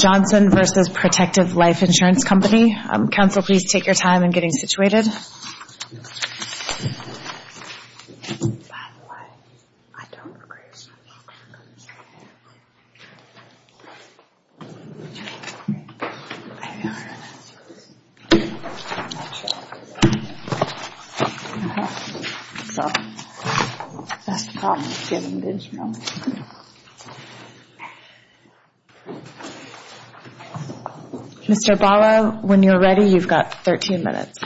Johnson v. Protective Life Insurance Company Mr. Bala, when you're ready, you've got 13 minutes.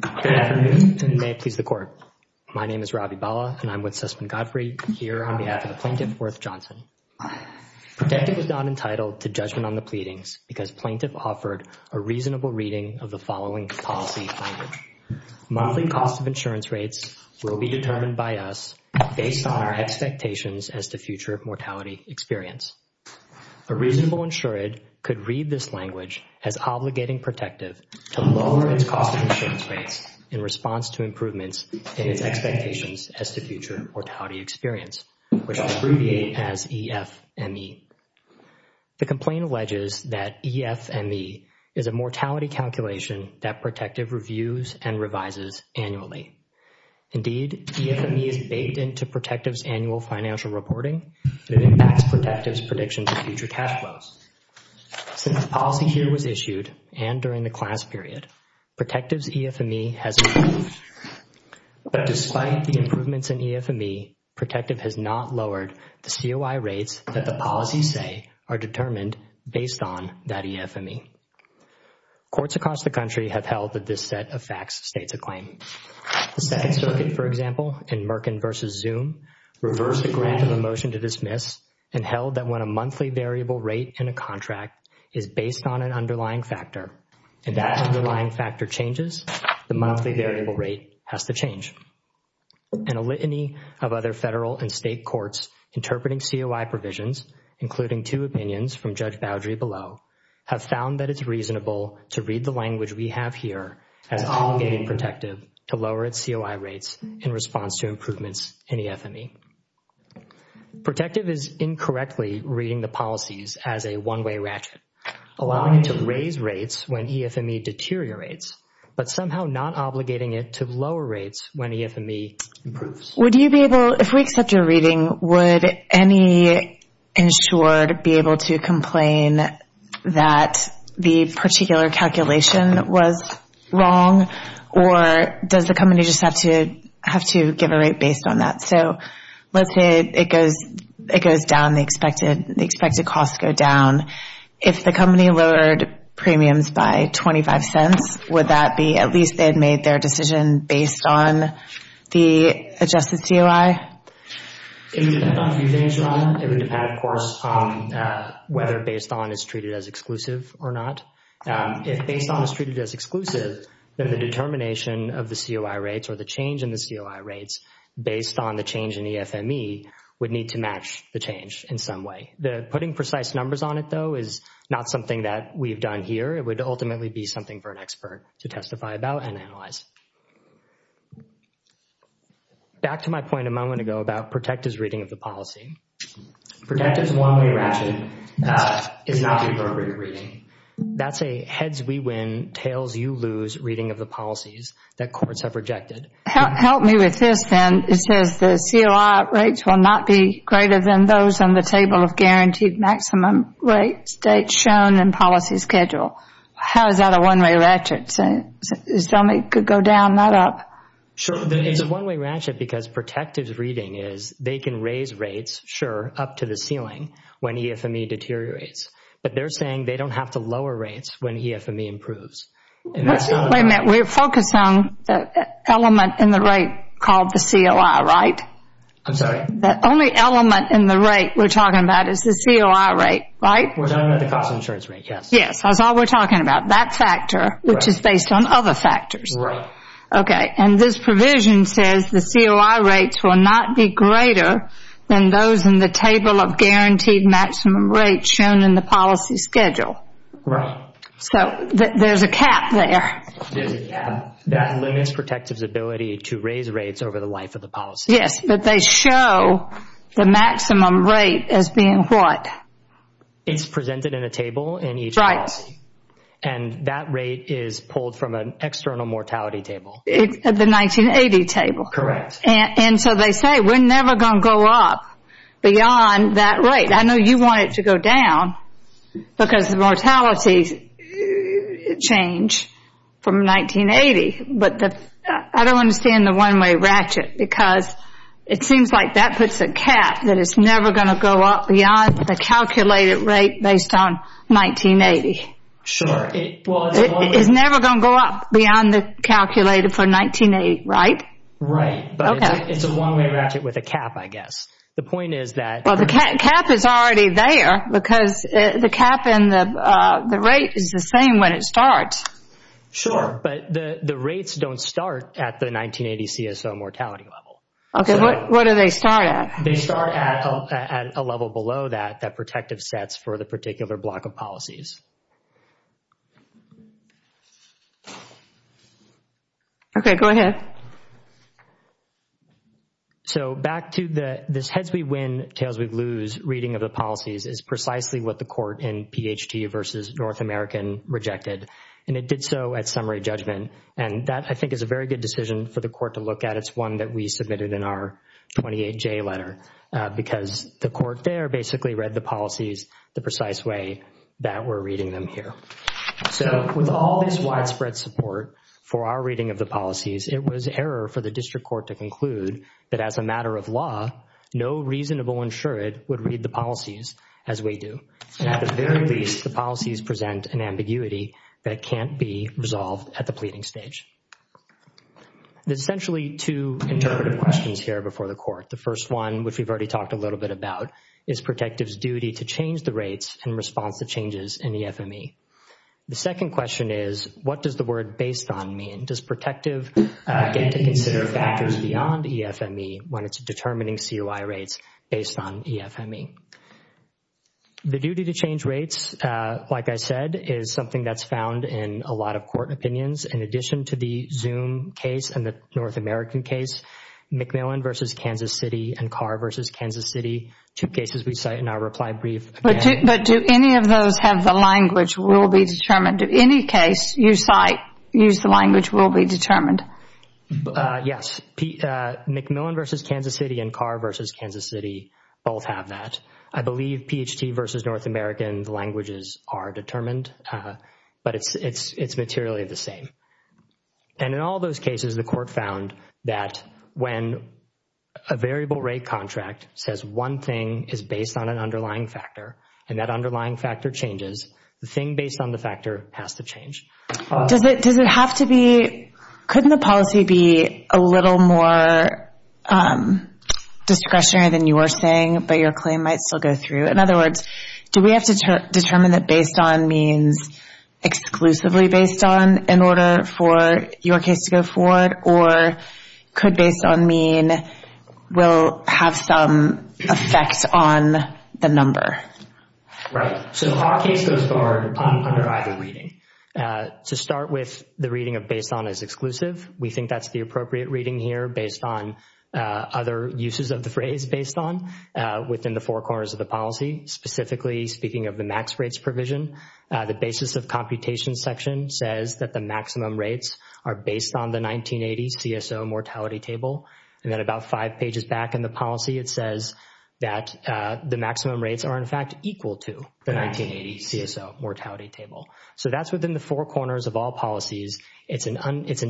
Good afternoon, and may it please the Court. My name is Ravi Bala, and I'm with Sussman Godfrey here on behalf of the Plaintiff, Worth Johnson. Protective was not entitled to judgment on the pleadings because Plaintiff offered a reasonable reading of the following policy language. Monthly cost of insurance rates will be determined by us based on our expectations as to future mortality experience. A reasonable insured could read this language as obligating protective to lower its cost of insurance rates in response to improvements in its expectations as to future mortality experience, which I'll abbreviate as EFME. The complaint alleges that EFME is a mortality calculation that Protective reviews and revises annually. Indeed, EFME is baked into Protective's annual financial reporting, and it impacts Protective's predictions of future cash flows. Since the policy here was issued and during the class period, Protective's EFME has improved. But despite the improvements in EFME, Protective has not lowered the COI rates that the policies say are determined based on that EFME. Courts across the country have held that this set of facts states a claim. The Second Circuit, for example, in Merkin v. Zoom, reversed a grant of a motion to dismiss and held that when a monthly variable rate in a contract is based on an underlying factor, and that underlying factor changes, the monthly variable rate has to change. And a litany of other federal and state courts interpreting COI provisions, including two opinions from Judge Boudry below, have found that it's reasonable to read the language we have here as obligating Protective to lower its COI rates in response to improvements in EFME. Protective is incorrectly reading the policies as a one-way ratchet, allowing it to raise rates when EFME deteriorates, but somehow not obligating it to lower rates when EFME improves. If we accept your reading, would any insured be able to complain that the particular calculation was wrong, or does the company just have to give a rate based on that? So let's say it goes down, the expected costs go down. If the company lowered premiums by 25 cents, would that be at least they had made their decision based on the adjusted COI? It would depend on if you finish your line. It would depend, of course, whether based on is treated as exclusive or not. If based on is treated as exclusive, then the determination of the COI rates or the change in the COI rates based on the change in EFME would need to match the change in some way. Putting precise numbers on it, though, is not something that we've done here. It would ultimately be something for an expert to testify about and analyze. Back to my point a moment ago about Protective's reading of the policy. Protective's one-way ratchet is not the appropriate reading. That's a heads-we-win, tails-you-lose reading of the policies that courts have rejected. Help me with this then. It says the COI rates will not be greater than those on the table of guaranteed maximum rates, dates shown, and policy schedule. How is that a one-way ratchet? Tell me it could go down, not up. Sure. It's a one-way ratchet because Protective's reading is they can raise rates, sure, up to the ceiling when EFME deteriorates. But they're saying they don't have to lower rates when EFME improves. Wait a minute. We're focused on the element in the rate called the COI, right? I'm sorry? The only element in the rate we're talking about is the COI rate, right? We're talking about the cost of insurance rate, yes. Yes. That's all we're talking about, that factor, which is based on other factors. Right. Okay. And this provision says the COI rates will not be greater than those in the table of guaranteed maximum rates shown in the policy schedule. Right. So there's a cap there. There's a cap. That limits Protective's ability to raise rates over the life of the policy. Yes, but they show the maximum rate as being what? It's presented in a table in each policy. Right. And that rate is pulled from an external mortality table. The 1980 table. Correct. And so they say we're never going to go up beyond that rate. I know you want it to go down because the mortalities change from 1980. I don't understand the one-way ratchet because it seems like that puts a cap that it's never going to go up beyond the calculated rate based on 1980. Sure. It's never going to go up beyond the calculated for 1980, right? Right. But it's a one-way ratchet with a cap, I guess. The point is that. Well, the cap is already there because the cap and the rate is the same when it starts. Sure. But the rates don't start at the 1980 CSO mortality level. Okay. What do they start at? They start at a level below that that Protective sets for the particular block of policies. Okay. Go ahead. So back to this heads we win, tails we lose reading of the policies is precisely what the court in PHT versus North American rejected. And it did so at summary judgment. And that I think is a very good decision for the court to look at. It's one that we submitted in our 28J letter because the court there basically read the policies the precise way that we're reading them here. So with all this widespread support for our reading of the policies, it was error for the district court to conclude that as a matter of law, no reasonable insured would read the policies as we do. And at the very least, the policies present an ambiguity that can't be resolved at the pleading stage. There's essentially two interpretive questions here before the court. The first one, which we've already talked a little bit about, is Protective's duty to change the rates in response to changes in EFME. The second question is, what does the word based on mean? Does Protective get to consider factors beyond EFME when it's determining COI rates based on EFME? The duty to change rates, like I said, is something that's found in a lot of court opinions. In addition to the Zoom case and the North American case, McMillan versus Kansas City and Carr versus Kansas City, two cases we cite in our reply brief. But do any of those have the language will be determined? Do any case you cite use the language will be determined? Yes. McMillan versus Kansas City and Carr versus Kansas City both have that. I believe PHT versus North American, the languages are determined, but it's materially the same. And in all those cases, the court found that when a variable rate contract says one thing is based on an underlying factor, and that underlying factor changes, the thing based on the factor has to change. Does it have to be, couldn't the policy be a little more discretionary than you were saying, but your claim might still go through? In other words, do we have to determine that based on means exclusively based on in order for your case to go forward, or could based on mean will have some effect on the number? Right. So our case goes forward under either reading. To start with, the reading of based on is exclusive. We think that's the appropriate reading here based on other uses of the phrase based on within the four corners of the policy, specifically speaking of the max rates provision. The basis of computation section says that the maximum rates are based on the 1980 CSO mortality table. And then about five pages back in the policy, it says that the maximum rates are in fact equal to the 1980 CSO mortality table. So that's within the four corners of all policies. It's an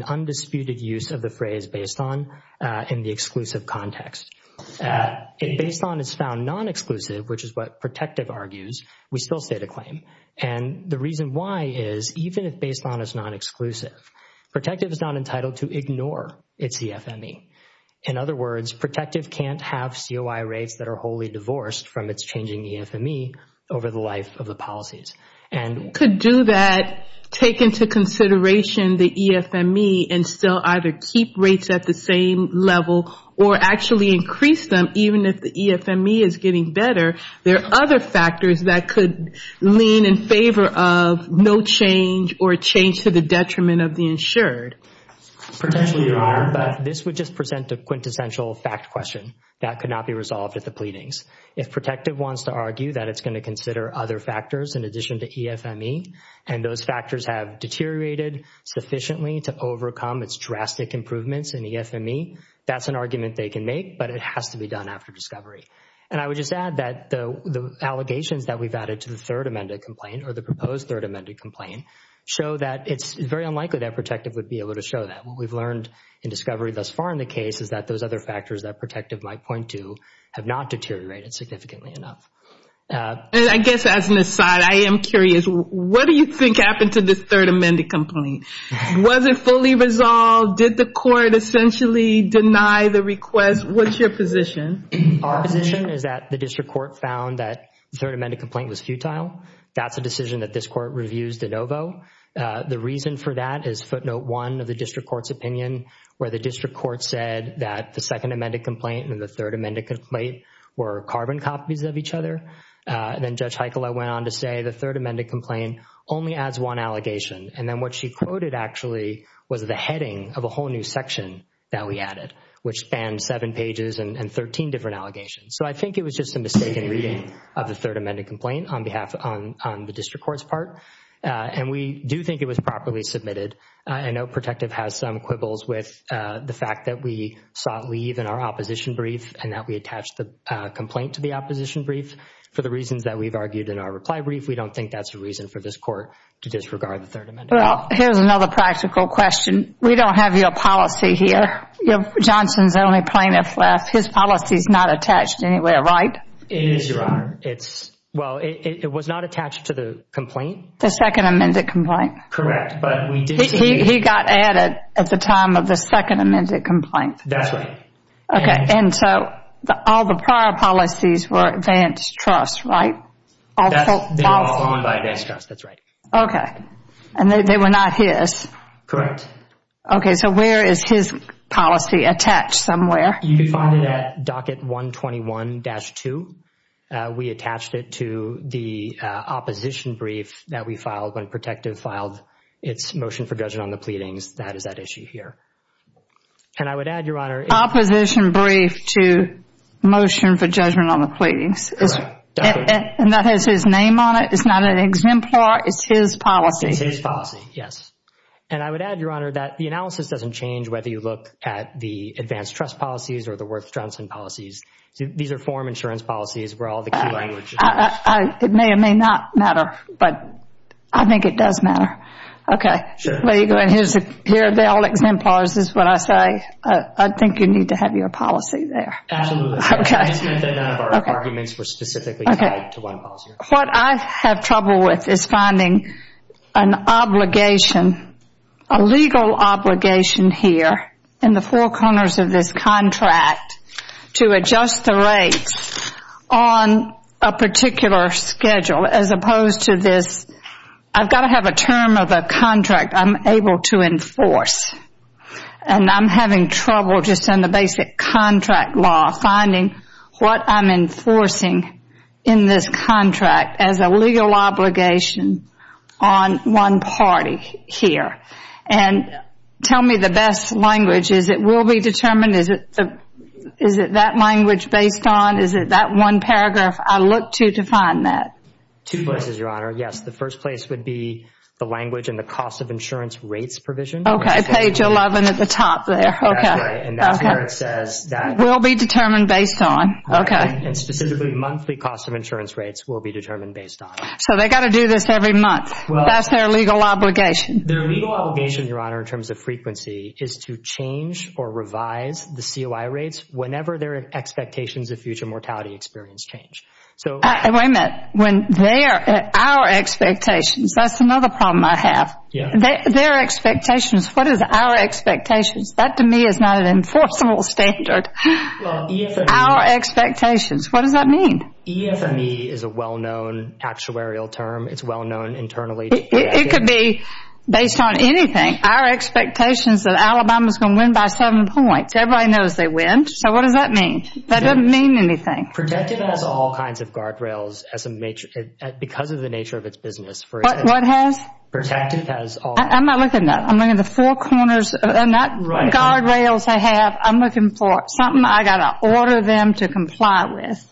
undisputed use of the phrase based on in the exclusive context. If based on is found non-exclusive, which is what protective argues, we still state a claim. And the reason why is even if based on is non-exclusive, protective is not entitled to ignore its EFME. In other words, protective can't have COI rates that are wholly divorced from its changing EFME over the life of the policies. Could do that take into consideration the EFME and still either keep rates at the same level or actually increase them even if the EFME is getting better? There are other factors that could lean in favor of no change or change to the detriment of the insured. Potentially there are, but this would just present a quintessential fact question that could not be resolved at the pleadings. If protective wants to argue that it's going to consider other factors in addition to EFME, and those factors have deteriorated sufficiently to overcome its drastic improvements in EFME, that's an argument they can make, but it has to be done after discovery. And I would just add that the allegations that we've added to the third amended complaint or the proposed third amended complaint show that it's very unlikely that protective would be able to show that. What we've learned in discovery thus far in the case is that those other factors that protective might point to have not deteriorated significantly enough. And I guess as an aside, I am curious, what do you think happened to this third amended complaint? Was it fully resolved? Did the court essentially deny the request? What's your position? Our position is that the district court found that the third amended complaint was futile. That's a decision that this court reviews de novo. The reason for that is footnote one of the district court's opinion, where the district court said that the second amended complaint and the third amended complaint were carbon copies of each other. Then Judge Heikkila went on to say the third amended complaint only adds one allegation. And then what she quoted actually was the heading of a whole new section that we added, which spanned seven pages and 13 different allegations. So I think it was just a mistaken reading of the third amended complaint on behalf of the district court's part. And we do think it was properly submitted. I know protective has some quibbles with the fact that we sought leave in our opposition brief and that we attached the complaint to the opposition brief for the reasons that we've argued in our reply brief. We don't think that's a reason for this court to disregard the third amended complaint. Well, here's another practical question. We don't have your policy here. Johnson's the only plaintiff left. His policy's not attached anywhere, right? It is, Your Honor. Well, it was not attached to the complaint. The second amended complaint. Correct. He got added at the time of the second amended complaint. That's right. Okay. And so all the prior policies were advanced trust, right? They were all owned by advanced trust. That's right. Okay. And they were not his. Correct. Okay. So where is his policy attached? Somewhere? You can find it at docket 121-2. We attached it to the opposition brief that we filed when protective filed its motion for judgment on the pleadings. That is that issue here. And I would add, Your Honor. Opposition brief to motion for judgment on the pleadings. Correct. And that has his name on it? It's not an exemplar? It's his policy? It's his policy, yes. And I would add, Your Honor, that the analysis doesn't change whether you look at the advanced trust policies or the Worth-Johnson policies. These are foreign insurance policies where all the key language is used. It may or may not matter, but I think it does matter. Okay. Sure. Here are the all exemplars is what I say. I think you need to have your policy there. Absolutely. Okay. I just meant that none of our arguments were specifically tied to one policy. What I have trouble with is finding an obligation, a legal obligation here in the four corners of this contract to adjust the rates on a particular schedule as opposed to this. I've got to have a term of a contract I'm able to enforce. And I'm having trouble just in the basic contract law finding what I'm enforcing in this contract as a legal obligation on one party here. And tell me the best language. Is it will be determined? Is it that language based on? Is it that one paragraph? I look to define that. Two places, Your Honor. Yes, the first place would be the language and the cost of insurance rates provision. Okay. Page 11 at the top there. Okay. That's right. And that's where it says that. Will be determined based on. Okay. And specifically monthly cost of insurance rates will be determined based on. So they've got to do this every month. Well. That's their legal obligation. Their legal obligation, Your Honor, in terms of frequency is to change or revise the COI rates whenever their expectations of future mortality experience change. So. Wait a minute. When their, our expectations, that's another problem I have. Yeah. Their expectations. What is our expectations? That, to me, is not an enforceable standard. Well, EFME. Our expectations. What does that mean? EFME is a well-known actuarial term. It's well-known internally. It could be based on anything. Our expectations that Alabama is going to win by seven points. Everybody knows they win. So what does that mean? That doesn't mean anything. Protective has all kinds of guardrails because of the nature of its business. What has? Protective has all. I'm not looking at that. I'm looking at the four corners, not guardrails I have. I'm looking for something I've got to order them to comply with.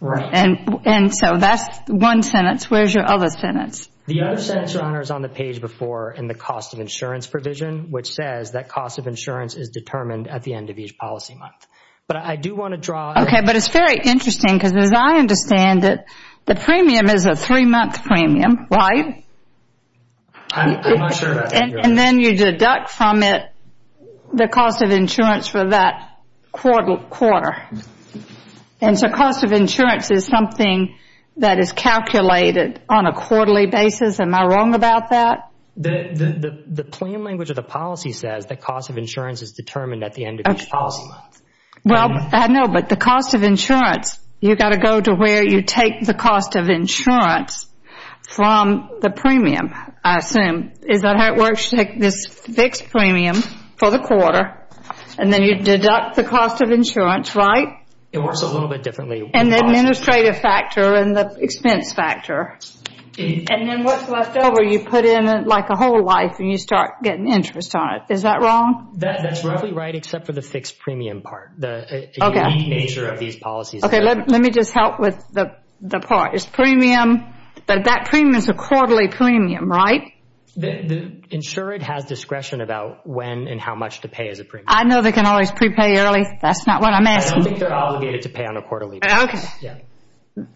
Right. And so that's one sentence. Where's your other sentence? The other sentence, Your Honor, is on the page before in the cost of insurance provision, which says that cost of insurance is determined at the end of each policy month. But I do want to draw. Okay. But it's very interesting because as I understand it, the premium is a three-month premium, right? I'm not sure about that, Your Honor. And then you deduct from it the cost of insurance for that quarter. And so cost of insurance is something that is calculated on a quarterly basis. Am I wrong about that? The claim language of the policy says that cost of insurance is determined at the end of each policy month. Well, I know, but the cost of insurance, you've got to go to where you take the cost of insurance from the premium, I assume. Is that how it works? You take this fixed premium for the quarter, and then you deduct the cost of insurance, right? It works a little bit differently. And the administrative factor and the expense factor. And then what's left over you put in like a whole life, and you start getting interest on it. Is that wrong? That's roughly right except for the fixed premium part, the unique nature of these policies. Okay, let me just help with the part. That premium is a quarterly premium, right? The insured has discretion about when and how much to pay as a premium. I know they can always prepay early. That's not what I'm asking. I don't think they're obligated to pay on a quarterly basis.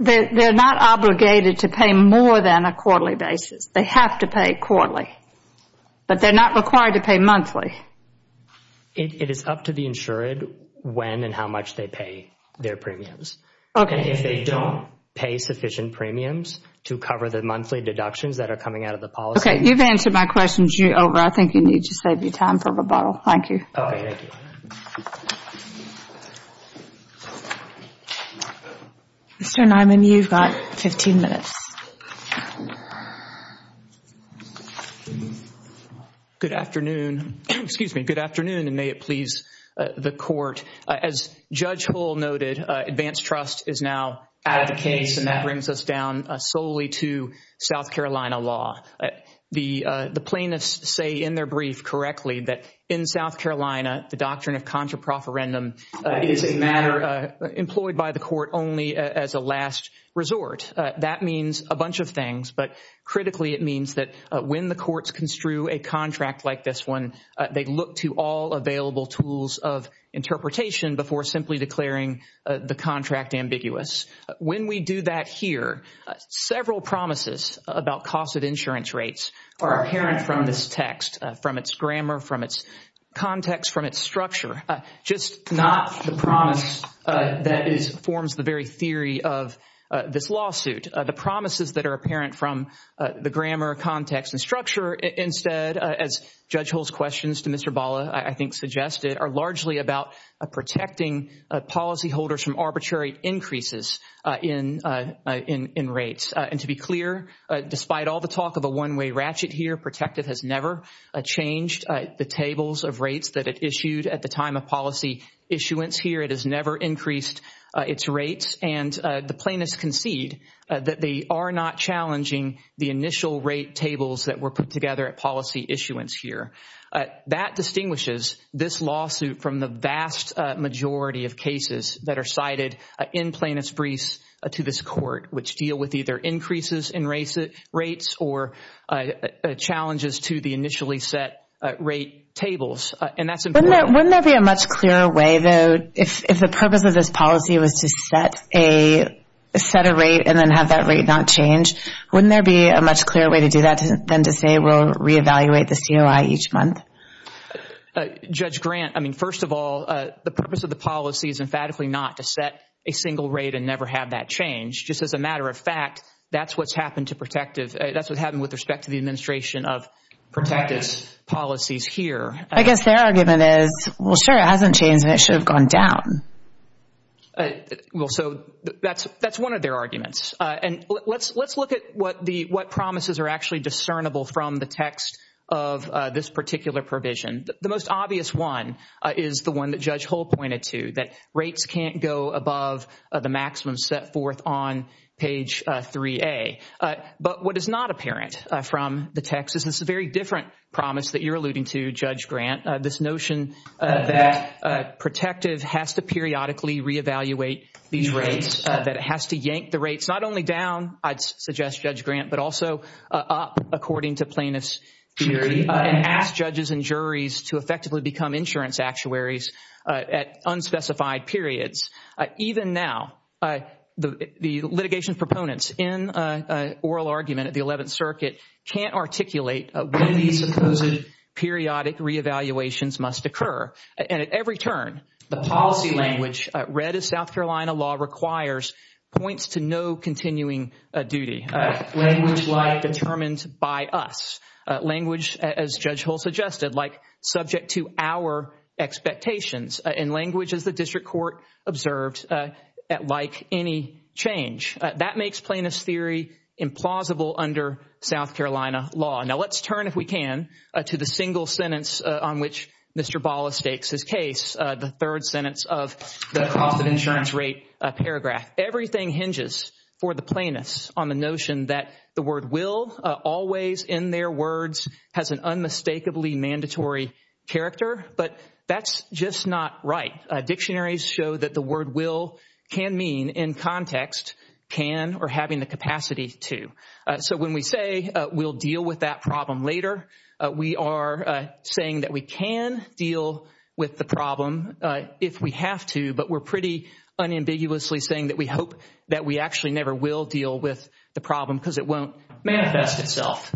They're not obligated to pay more than a quarterly basis. They have to pay quarterly. But they're not required to pay monthly. It is up to the insured when and how much they pay their premiums. If they don't pay sufficient premiums to cover the monthly deductions that are coming out of the policy. Okay, you've answered my questions. You're over. I think you need to save your time for rebuttal. Thank you. Okay, thank you. Mr. Niman, you've got 15 minutes. Good afternoon. Excuse me. Good afternoon, and may it please the court. As Judge Hull noted, advanced trust is now out of the case, and that brings us down solely to South Carolina law. The plaintiffs say in their brief correctly that in South Carolina, the doctrine of contraproferendum is a matter employed by the court only as a last resort. That means a bunch of things, but critically it means that when the courts construe a contract like this one, they look to all available tools of interpretation before simply declaring the contract ambiguous. When we do that here, several promises about cost of insurance rates are apparent from this text, from its grammar, from its context, from its structure. Just not the promise that forms the very theory of this lawsuit. The promises that are apparent from the grammar, context, and structure instead, as Judge Hull's questions to Mr. Balla, I think, suggested, are largely about protecting policyholders from arbitrary increases in rates. And to be clear, despite all the talk of a one-way ratchet here, has never changed the tables of rates that it issued at the time of policy issuance here. It has never increased its rates, and the plaintiffs concede that they are not challenging the initial rate tables that were put together at policy issuance here. That distinguishes this lawsuit from the vast majority of cases that are cited in plaintiff's briefs to this court, which deal with either increases in rates or challenges to the initially set rate tables. And that's important. Wouldn't there be a much clearer way, though, if the purpose of this policy was to set a rate and then have that rate not change? Wouldn't there be a much clearer way to do that than to say we'll reevaluate the COI each month? Judge Grant, I mean, first of all, the purpose of the policy is emphatically not to set a single rate and never have that change. Just as a matter of fact, that's what's happened with respect to the administration of protective policies here. I guess their argument is, well, sure, it hasn't changed, and it should have gone down. Well, so that's one of their arguments. And let's look at what promises are actually discernible from the text of this particular provision. The most obvious one is the one that Judge Hull pointed to, that rates can't go above the maximum set forth on page 3A. But what is not apparent from the text is this very different promise that you're alluding to, Judge Grant, this notion that protective has to periodically reevaluate these rates, that it has to yank the rates not only down, I'd suggest, Judge Grant, but also up, according to plaintiff's theory, and ask judges and juries to effectively become insurance actuaries at unspecified periods. Even now, the litigation proponents in oral argument at the 11th Circuit can't articulate when these supposed periodic reevaluations must occur. And at every turn, the policy language, read as South Carolina law requires, points to no continuing duty. Language like determined by us. Language, as Judge Hull suggested, like subject to our expectations. And language, as the district court observed, like any change. That makes plaintiff's theory implausible under South Carolina law. Now, let's turn, if we can, to the single sentence on which Mr. Bala stakes his case, the third sentence of the cost of insurance rate paragraph. Everything hinges for the plaintiffs on the notion that the word will always, in their words, has an unmistakably mandatory character, but that's just not right. Dictionaries show that the word will can mean, in context, can or having the capacity to. So when we say we'll deal with that problem later, we are saying that we can deal with the problem if we have to, but we're pretty unambiguously saying that we hope that we actually never will deal with the problem because it won't manifest itself.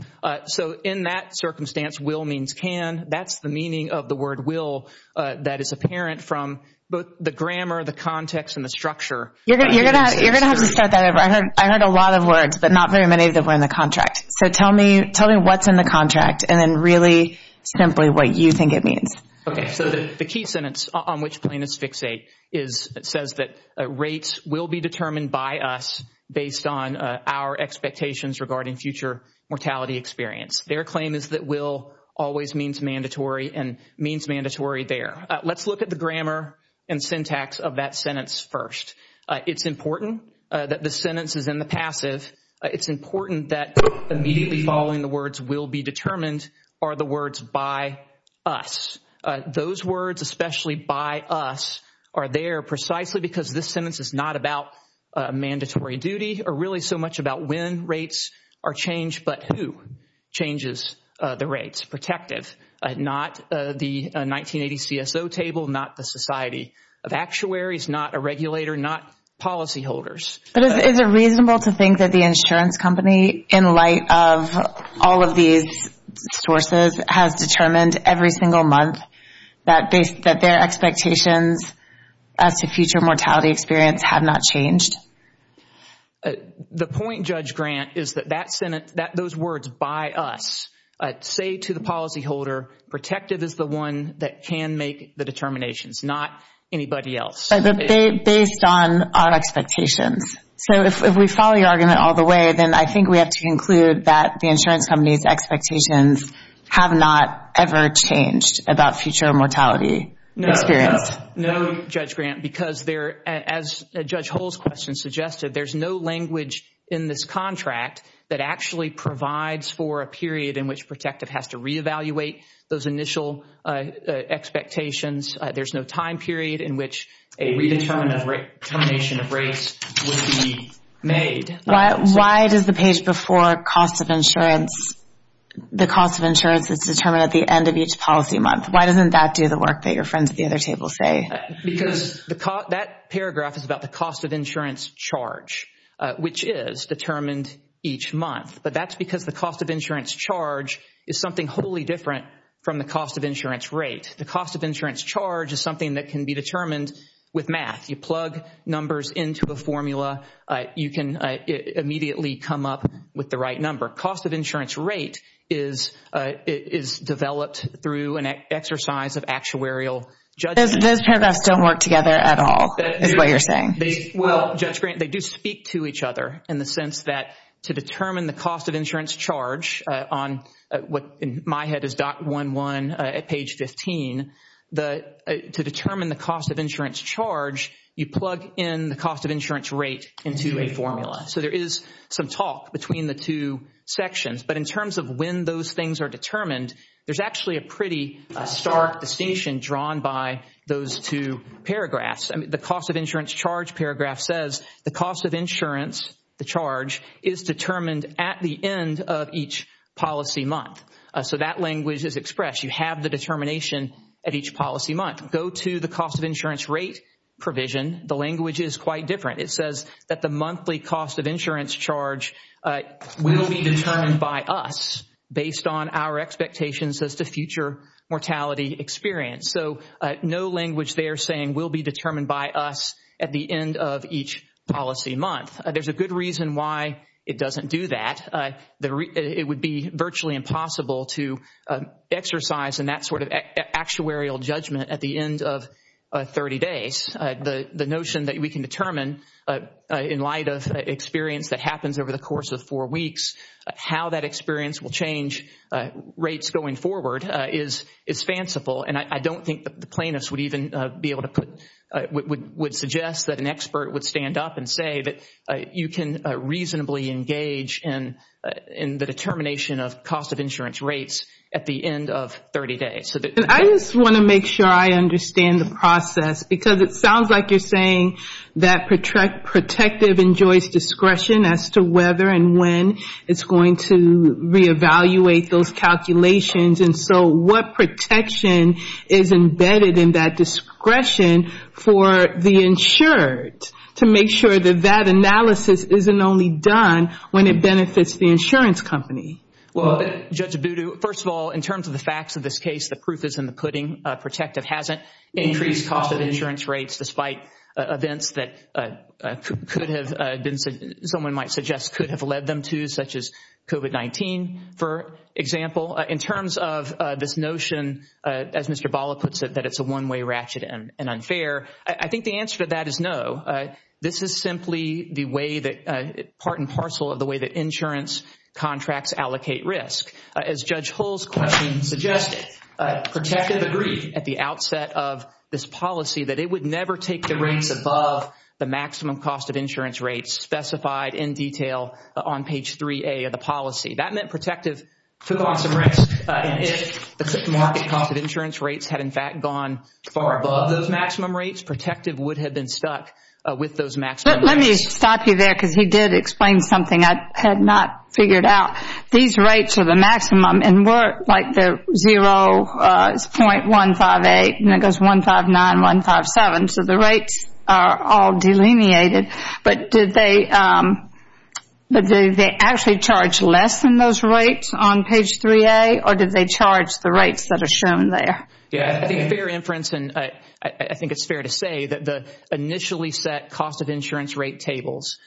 So in that circumstance, will means can. That's the meaning of the word will that is apparent from both the grammar, the context, and the structure. You're going to have to start that over. I heard a lot of words, but not very many that were in the contract. So tell me what's in the contract and then really simply what you think it means. Okay, so the key sentence on which plaintiffs fixate says that rates will be determined by us based on our expectations regarding future mortality experience. Their claim is that will always means mandatory and means mandatory there. Let's look at the grammar and syntax of that sentence first. It's important that the sentence is in the passive. It's important that immediately following the words will be determined are the words by us. Those words, especially by us, are there precisely because this sentence is not about mandatory duty or really so much about when rates are changed but who changes the rates. It's protective, not the 1980 CSO table, not the Society of Actuaries, not a regulator, not policyholders. But is it reasonable to think that the insurance company, in light of all of these sources, has determined every single month that their expectations as to future mortality experience have not changed? The point, Judge Grant, is that those words by us say to the policyholder, protective is the one that can make the determinations, not anybody else. But based on our expectations. So if we follow your argument all the way, then I think we have to conclude that the insurance company's expectations have not ever changed about future mortality experience. No, Judge Grant, because as Judge Hull's question suggested, there's no language in this contract that actually provides for a period in which protective has to reevaluate those initial expectations. There's no time period in which a redetermination of rates would be made. Why does the page before the cost of insurance that's determined at the end of each policy month, why doesn't that do the work that your friends at the other table say? Because that paragraph is about the cost of insurance charge, which is determined each month. But that's because the cost of insurance charge is something wholly different from the cost of insurance rate. The cost of insurance charge is something that can be determined with math. You plug numbers into a formula. You can immediately come up with the right number. Cost of insurance rate is developed through an exercise of actuarial judgment. Those paragraphs don't work together at all, is what you're saying. Well, Judge Grant, they do speak to each other in the sense that to determine the cost of insurance charge, on what in my head is .11 at page 15, to determine the cost of insurance charge, you plug in the cost of insurance rate into a formula. So there is some talk between the two sections. But in terms of when those things are determined, there's actually a pretty stark distinction drawn by those two paragraphs. The cost of insurance charge paragraph says the cost of insurance, the charge, is determined at the end of each policy month. So that language is expressed. You have the determination at each policy month. Go to the cost of insurance rate provision. The language is quite different. It says that the monthly cost of insurance charge will be determined by us based on our expectations as to future mortality experience. So no language there saying will be determined by us at the end of each policy month. There's a good reason why it doesn't do that. It would be virtually impossible to exercise in that sort of actuarial judgment at the end of 30 days. The notion that we can determine in light of experience that happens over the course of four weeks, how that experience will change rates going forward is fanciful. And I don't think the plaintiffs would even be able to put, would suggest that an expert would stand up and say that you can reasonably engage in the determination of cost of insurance rates at the end of 30 days. I just want to make sure I understand the process, because it sounds like you're saying that protective enjoys discretion as to whether and when it's going to reevaluate those calculations. And so what protection is embedded in that discretion for the insured, to make sure that that analysis isn't only done when it benefits the insurance company? Well, Judge Abudu, first of all, in terms of the facts of this case, the proof is in the pudding. Protective hasn't increased cost of insurance rates despite events that could have been, someone might suggest could have led them to, such as COVID-19, for example. In terms of this notion, as Mr. Bala puts it, that it's a one-way ratchet and unfair, I think the answer to that is no. This is simply the way that, part and parcel of the way that insurance contracts allocate risk. As Judge Hull's question suggested, protective agreed at the outset of this policy that it would never take the rates above the maximum cost of insurance rates specified in detail on page 3A of the policy. That meant protective took on some risk. And if the market cost of insurance rates had, in fact, gone far above those maximum rates, protective would have been stuck with those maximum rates. Let me stop you there because he did explain something I had not figured out. These rates are the maximum and were like the 0.158 and it goes 159, 157. So the rates are all delineated. But did they actually charge less than those rates on page 3A or did they charge the rates that are shown there? Yeah, I think fair inference and I think it's fair to say that the initially set cost of insurance rate tables,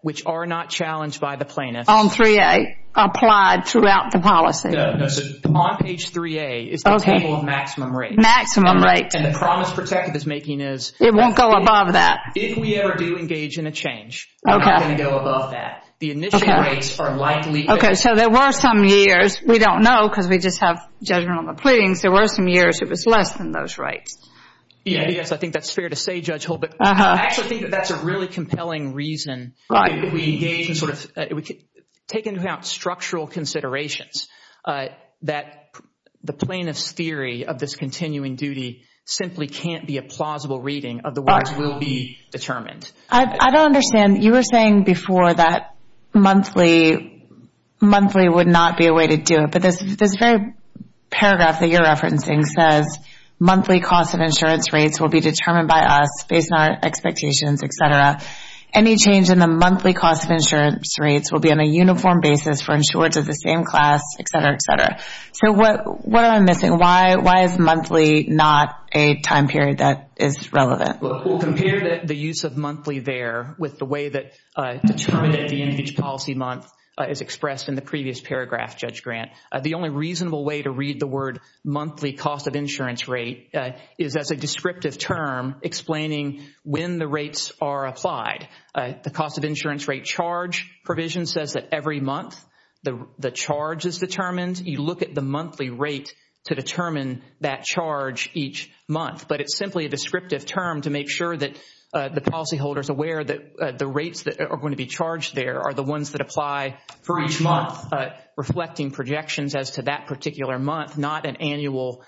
which are not challenged by the plaintiffs. On 3A, applied throughout the policy. No, no, so on page 3A is the table of maximum rates. Maximum rates. And the promise protective is making is It won't go above that. If we ever do engage in a change, I'm not going to go above that. The initial rates are likely Okay, so there were some years, we don't know because we just have judgment on the pleadings, there were some years it was less than those rates. Yes, I think that's fair to say, Judge Holt. But I actually think that that's a really compelling reason. If we engage in sort of, take into account structural considerations, that the plaintiff's theory of this continuing duty simply can't be a plausible reading of the words will be determined. I don't understand. You were saying before that monthly would not be a way to do it. But this very paragraph that you're referencing says, Monthly cost of insurance rates will be determined by us based on our expectations, etc. Any change in the monthly cost of insurance rates will be on a uniform basis for insurers of the same class, etc., etc. So what am I missing? Why is monthly not a time period that is relevant? We'll compare the use of monthly there with the way that policy month is expressed in the previous paragraph, Judge Grant. The only reasonable way to read the word monthly cost of insurance rate is as a descriptive term explaining when the rates are applied. The cost of insurance rate charge provision says that every month the charge is determined. You look at the monthly rate to determine that charge each month. But it's simply a descriptive term to make sure that the policyholder is aware that the rates that are going to be charged there are the ones that apply for each month, reflecting projections as to that particular month, not an annual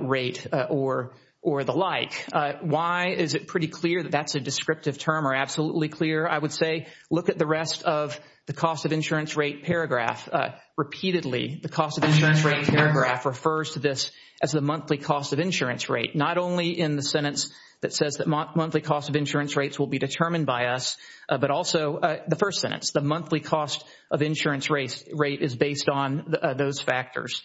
rate or the like. Why is it pretty clear that that's a descriptive term or absolutely clear? I would say look at the rest of the cost of insurance rate paragraph. Repeatedly, the cost of insurance rate paragraph refers to this as the monthly cost of insurance rate. Not only in the sentence that says that monthly cost of insurance rates will be determined by us, but also the first sentence. The monthly cost of insurance rate is based on those factors.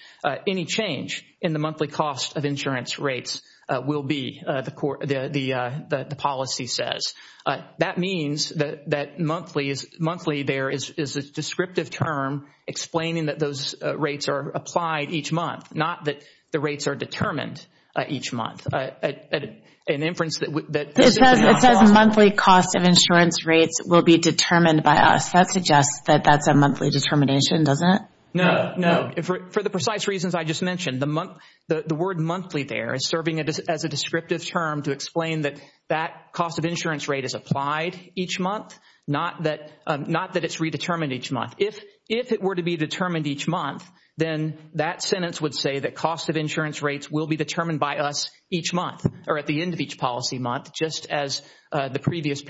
Any change in the monthly cost of insurance rates will be, the policy says. That means that monthly there is a descriptive term explaining that those rates are applied each month, not that the rates are determined each month. It says monthly cost of insurance rates will be determined by us. That suggests that that's a monthly determination, doesn't it? No, no. For the precise reasons I just mentioned, the word monthly there is serving as a descriptive term to explain that that cost of insurance rate is applied each month, not that it's redetermined each month. If it were to be determined each month, then that sentence would say that cost of insurance rates will be determined by us each month, or at the end of each policy month, just as the previous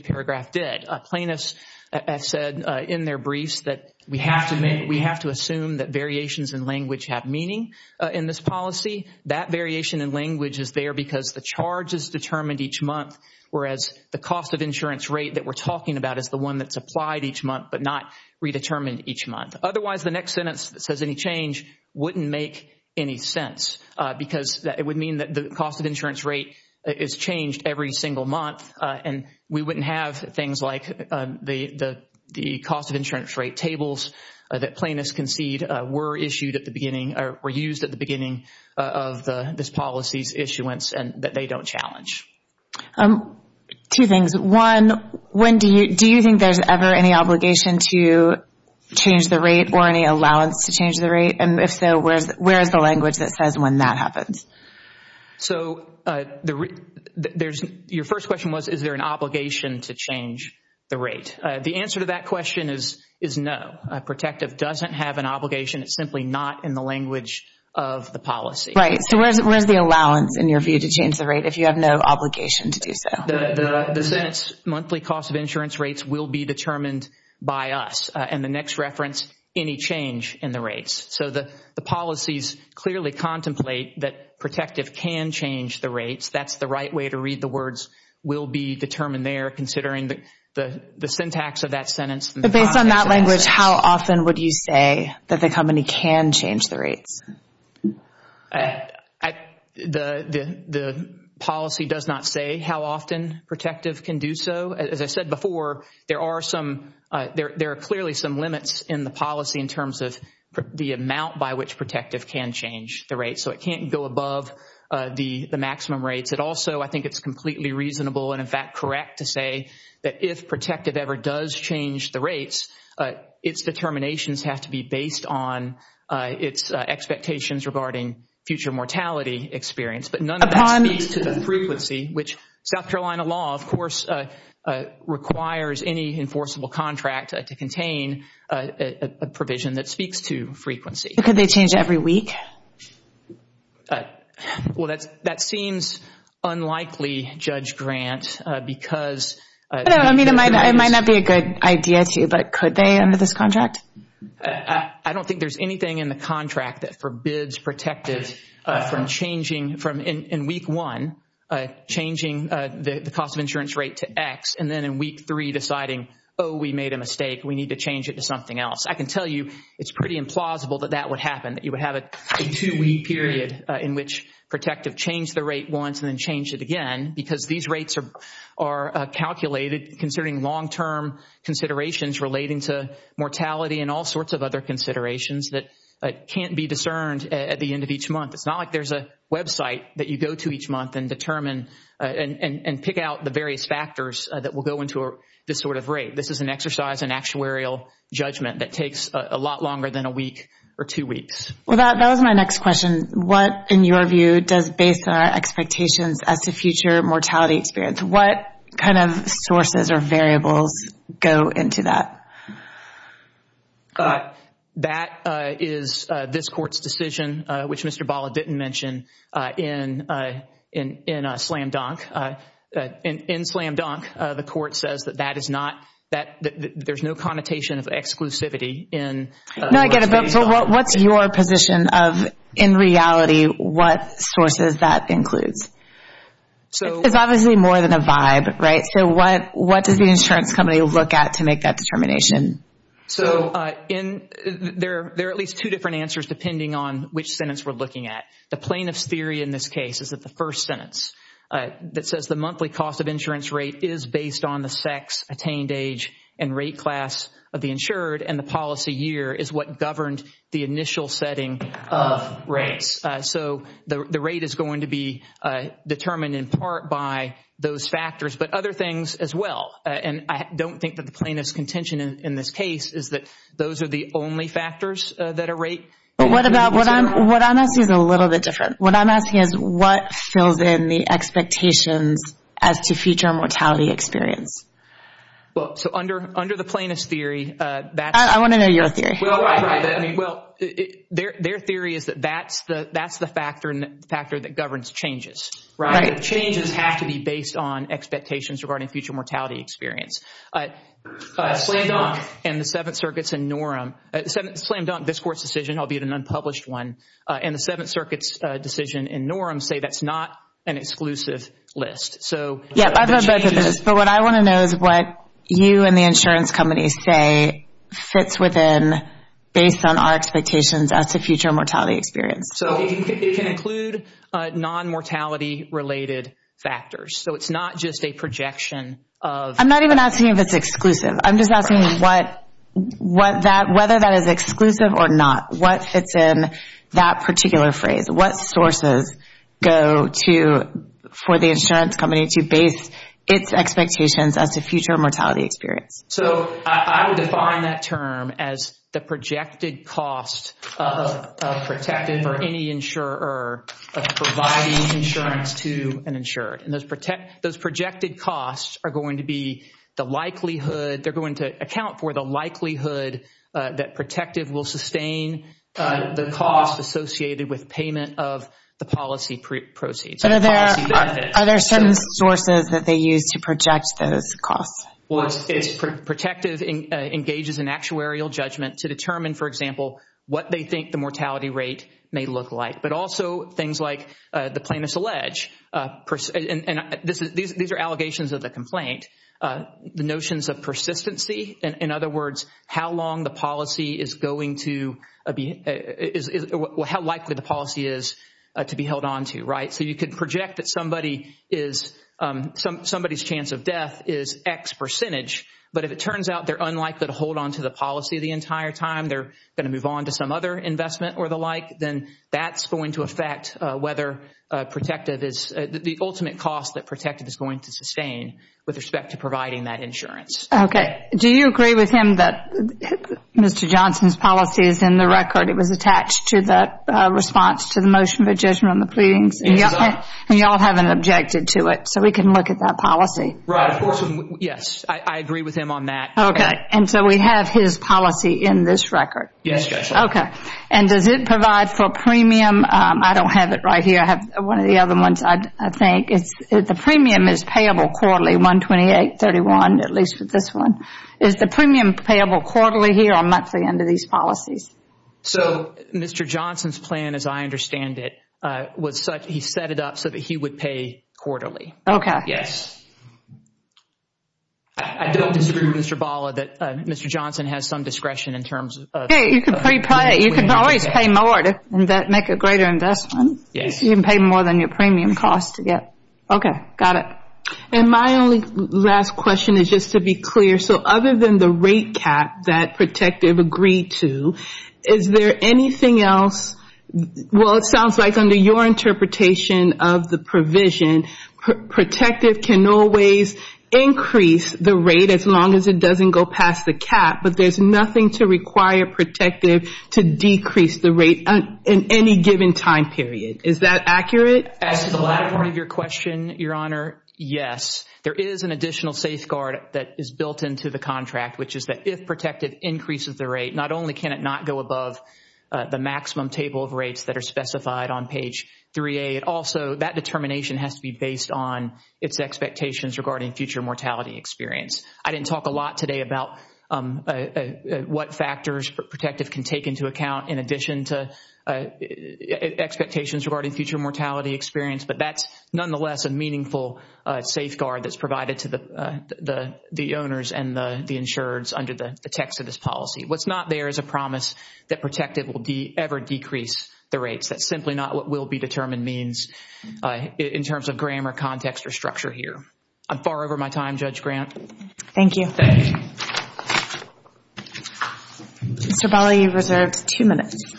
paragraph did. Plaintiffs have said in their briefs that we have to assume that variations in language have meaning in this policy. That variation in language is there because the charge is determined each month, whereas the cost of insurance rate that we're talking about is the one that's applied each month but not redetermined each month. Otherwise, the next sentence that says any change wouldn't make any sense, because it would mean that the cost of insurance rate is changed every single month, and we wouldn't have things like the cost of insurance rate tables that plaintiffs concede were issued at the beginning, or were used at the beginning of this policy's issuance and that they don't challenge. Two things. One, do you think there's ever any obligation to change the rate or any allowance to change the rate? If so, where is the language that says when that happens? Your first question was, is there an obligation to change the rate? The answer to that question is no. Protective doesn't have an obligation. It's simply not in the language of the policy. Right, so where's the allowance in your view to change the rate if you have no obligation to do so? The sentence, monthly cost of insurance rates, will be determined by us. And the next reference, any change in the rates. So the policies clearly contemplate that protective can change the rates. That's the right way to read the words, will be determined there considering the syntax of that sentence. But based on that language, how often would you say that the company can change the rates? The policy does not say how often protective can do so. As I said before, there are clearly some limits in the policy in terms of the amount by which protective can change the rates. So it can't go above the maximum rates. It also, I think it's completely reasonable and, in fact, correct to say that if protective ever does change the rates, its determinations have to be based on its expectations regarding future mortality experience. But none of that speaks to the frequency, which South Carolina law, of course, requires any enforceable contract to contain a provision that speaks to frequency. Could they change every week? Well, that seems unlikely, Judge Grant, because- No, I mean, it might not be a good idea to, but could they under this contract? I don't think there's anything in the contract that forbids protective from changing, from in week one, changing the cost of insurance rate to X, and then in week three deciding, oh, we made a mistake, we need to change it to something else. I can tell you it's pretty implausible that that would happen, that you would have a two-week period in which protective changed the rate once and then changed it again, because these rates are calculated considering long-term considerations relating to mortality and all sorts of other considerations that can't be discerned at the end of each month. It's not like there's a website that you go to each month and determine and pick out the various factors that will go into this sort of rate. This is an exercise in actuarial judgment that takes a lot longer than a week or two weeks. Well, that was my next question. What, in your view, does base our expectations as to future mortality experience? What kind of sources or variables go into that? That is this Court's decision, which Mr. Bala didn't mention in Slam Dunk. In Slam Dunk, the Court says that there's no connotation of exclusivity. No, I get it, but what's your position of, in reality, what sources that includes? It's obviously more than a vibe, right? What does the insurance company look at to make that determination? There are at least two different answers depending on which sentence we're looking at. The plaintiff's theory in this case is that the first sentence that says the monthly cost of insurance rate is based on the sex, attained age, and rate class of the insured, and the policy year is what governed the initial setting of rates. So the rate is going to be determined in part by those factors, but other things as well. I don't think that the plaintiff's contention in this case is that those are the only factors that are rate. What I'm asking is a little bit different. What I'm asking is what fills in the expectations as to future mortality experience? Under the plaintiff's theory, that's... I want to know your theory. Their theory is that that's the factor that governs changes. Changes have to be based on expectations regarding future mortality experience. Slam Dunk and the Seventh Circuit's decision, albeit an unpublished one, and the Seventh Circuit's decision in Norum say that's not an exclusive list. Yeah, I've heard both of those. But what I want to know is what you and the insurance company say fits within based on our expectations as to future mortality experience. It can include non-mortality-related factors. It's not just a projection of... I'm not even asking if it's exclusive. I'm just asking whether that is exclusive or not. What fits in that particular phrase? What sources go for the insurance company to base its expectations as to future mortality experience? I would define that term as the projected cost of providing insurance to an insured. Those projected costs are going to be the likelihood. They're going to account for the likelihood that Protective will sustain the cost associated with payment of the policy proceeds. Are there certain sources that they use to project those costs? Protective engages in actuarial judgment to determine, for example, what they think the mortality rate may look like. But also things like the plaintiff's allege. These are allegations of the complaint. The notions of persistency, in other words, how likely the policy is to be held on to. You could project that somebody's chance of death is X percentage, but if it turns out they're unlikely to hold on to the policy the entire time, they're going to move on to some other investment or the like, then that's going to affect whether the ultimate cost that Protective is going to sustain with respect to providing that insurance. Okay. Do you agree with him that Mr. Johnson's policy is in the record? It was attached to the response to the motion for judgment on the pleadings, and you all haven't objected to it, so we can look at that policy. Right, of course. Yes, I agree with him on that. Okay. And so we have his policy in this record? Yes. Okay. And does it provide for premium? I don't have it right here. I have one of the other ones, I think. The premium is payable quarterly, 128, 31, at least with this one. Is the premium payable quarterly here or monthly under these policies? So Mr. Johnson's plan, as I understand it, he set it up so that he would pay quarterly. Okay. Yes. I don't disagree with Mr. Bala that Mr. Johnson has some discretion in terms of Okay, you can pre-pay. You can always pay more to make a greater investment. Yes. You can pay more than your premium cost to get. Okay, got it. And my only last question is just to be clear. So other than the rate cap that Protective agreed to, is there anything else? Well, it sounds like under your interpretation of the provision, Protective can always increase the rate as long as it doesn't go past the cap, but there's nothing to require Protective to decrease the rate in any given time period. Is that accurate? As to the latter part of your question, Your Honor, yes. There is an additional safeguard that is built into the contract, which is that if Protective increases the rate, not only can it not go above the maximum table of rates that are specified on page 3A, but also that determination has to be based on its expectations regarding future mortality experience. I didn't talk a lot today about what factors Protective can take into account in addition to expectations regarding future mortality experience, but that's nonetheless a meaningful safeguard that's provided to the owners and the insureds under the text of this policy. What's not there is a promise that Protective will ever decrease the rates. That's simply not what will be determined means in terms of grammar, context, or structure here. I'm far over my time, Judge Grant. Thank you. Thank you. Mr. Bali, you're reserved two minutes.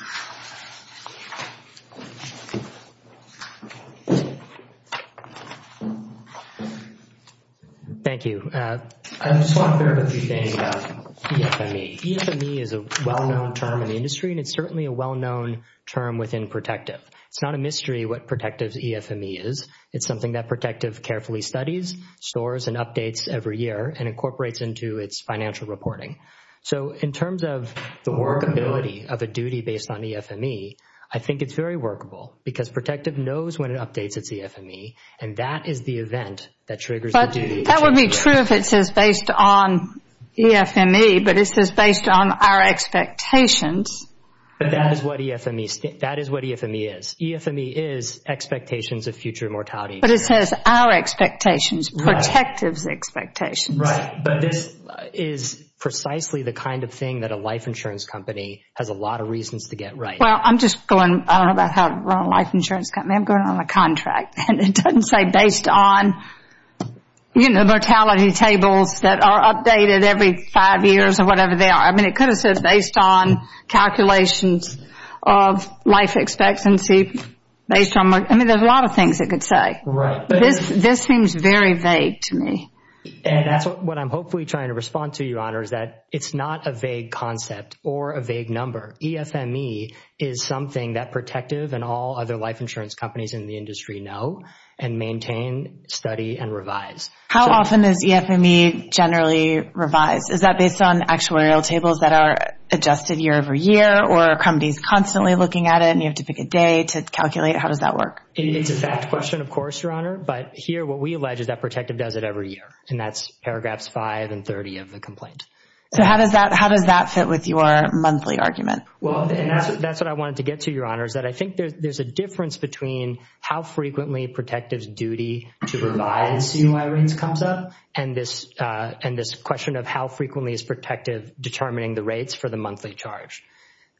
Thank you. I just want to clarify a few things about EFME. EFME is a well-known term in the industry, and it's certainly a well-known term within Protective. It's not a mystery what Protective's EFME is. It's something that Protective carefully studies, stores, and updates every year and incorporates into its financial reporting. So in terms of the workability of a duty based on EFME, I think it's very workable because Protective knows when it updates its EFME, and that is the event that triggers the duty. That would be true if it says based on EFME, but it says based on our expectations. That is what EFME is. EFME is expectations of future mortality. But it says our expectations, Protective's expectations. Right. But this is precisely the kind of thing that a life insurance company has a lot of reasons to get right. Well, I'm just going, I don't know about how to run a life insurance company, but I am going on a contract, and it doesn't say based on, you know, mortality tables that are updated every five years or whatever they are. I mean, it could have said based on calculations of life expectancy. I mean, there's a lot of things it could say. Right. This seems very vague to me. And that's what I'm hopefully trying to respond to, Your Honor, is that it's not a vague concept or a vague number. EFME is something that Protective and all other life insurance companies in the industry know and maintain, study, and revise. How often is EFME generally revised? Is that based on actuarial tables that are adjusted year over year or are companies constantly looking at it and you have to pick a day to calculate? How does that work? It's a fact question, of course, Your Honor. But here what we allege is that Protective does it every year, and that's paragraphs 5 and 30 of the complaint. So how does that fit with your monthly argument? Well, and that's what I wanted to get to, Your Honor, is that I think there's a difference between how frequently Protective's duty to revise CUI rates comes up and this question of how frequently is Protective determining the rates for the monthly charge.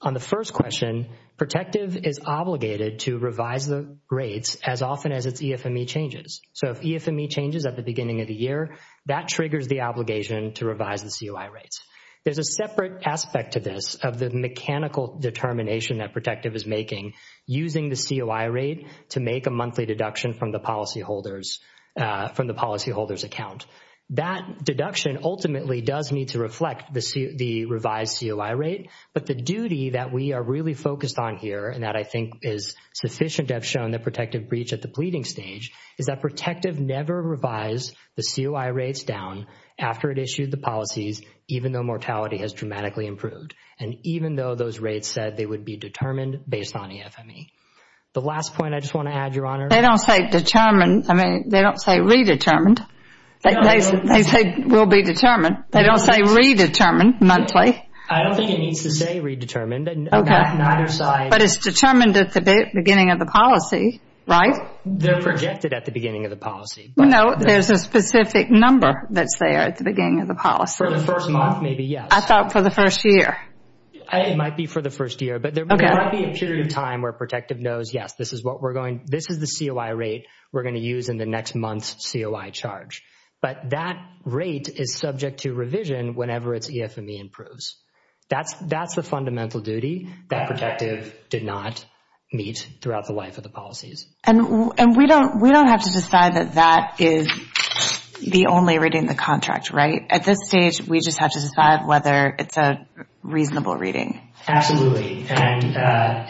On the first question, Protective is obligated to revise the rates as often as its EFME changes. So if EFME changes at the beginning of the year, that triggers the obligation to revise the CUI rates. There's a separate aspect to this of the mechanical determination that Protective is making using the CUI rate to make a monthly deduction from the policyholder's account. That deduction ultimately does need to reflect the revised CUI rate, but the duty that we are really focused on here and that I think is sufficient to have shown the Protective breach at the pleading stage is that Protective never revised the CUI rates down after it issued the policies even though mortality has dramatically improved and even though those rates said they would be determined based on EFME. The last point I just want to add, Your Honor. They don't say determined. I mean, they don't say redetermined. They say will be determined. They don't say redetermined monthly. I don't think it needs to say redetermined on either side. But it's determined at the beginning of the policy, right? They're projected at the beginning of the policy. No, there's a specific number that's there at the beginning of the policy. For the first month, maybe, yes. I thought for the first year. It might be for the first year, but there might be a period of time where Protective knows, yes, this is the CUI rate we're going to use in the next month's CUI charge. But that rate is subject to revision whenever its EFME improves. That's the fundamental duty that Protective did not meet throughout the life of the policies. And we don't have to decide that that is the only reading in the contract, right? At this stage, we just have to decide whether it's a reasonable reading. Absolutely. And a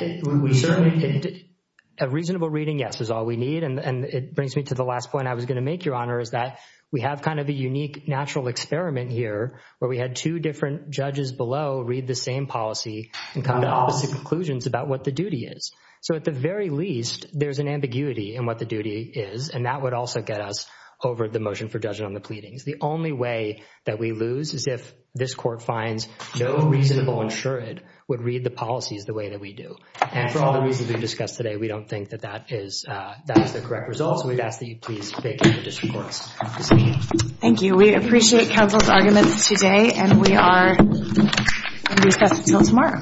reasonable reading, yes, is all we need. And it brings me to the last point I was going to make, Your Honor, is that we have kind of a unique natural experiment here where we had two different judges below read the same policy and come to opposite conclusions about what the duty is. So at the very least, there's an ambiguity in what the duty is, and that would also get us over the motion for judgment on the pleadings. The only way that we lose is if this court finds no reasonable insured would read the policies the way that we do. And for all the reasons we've discussed today, we don't think that that is the correct result, so we'd ask that you please vacate the district courts. Thank you. We appreciate counsel's arguments today, and we are going to be discussing it until tomorrow.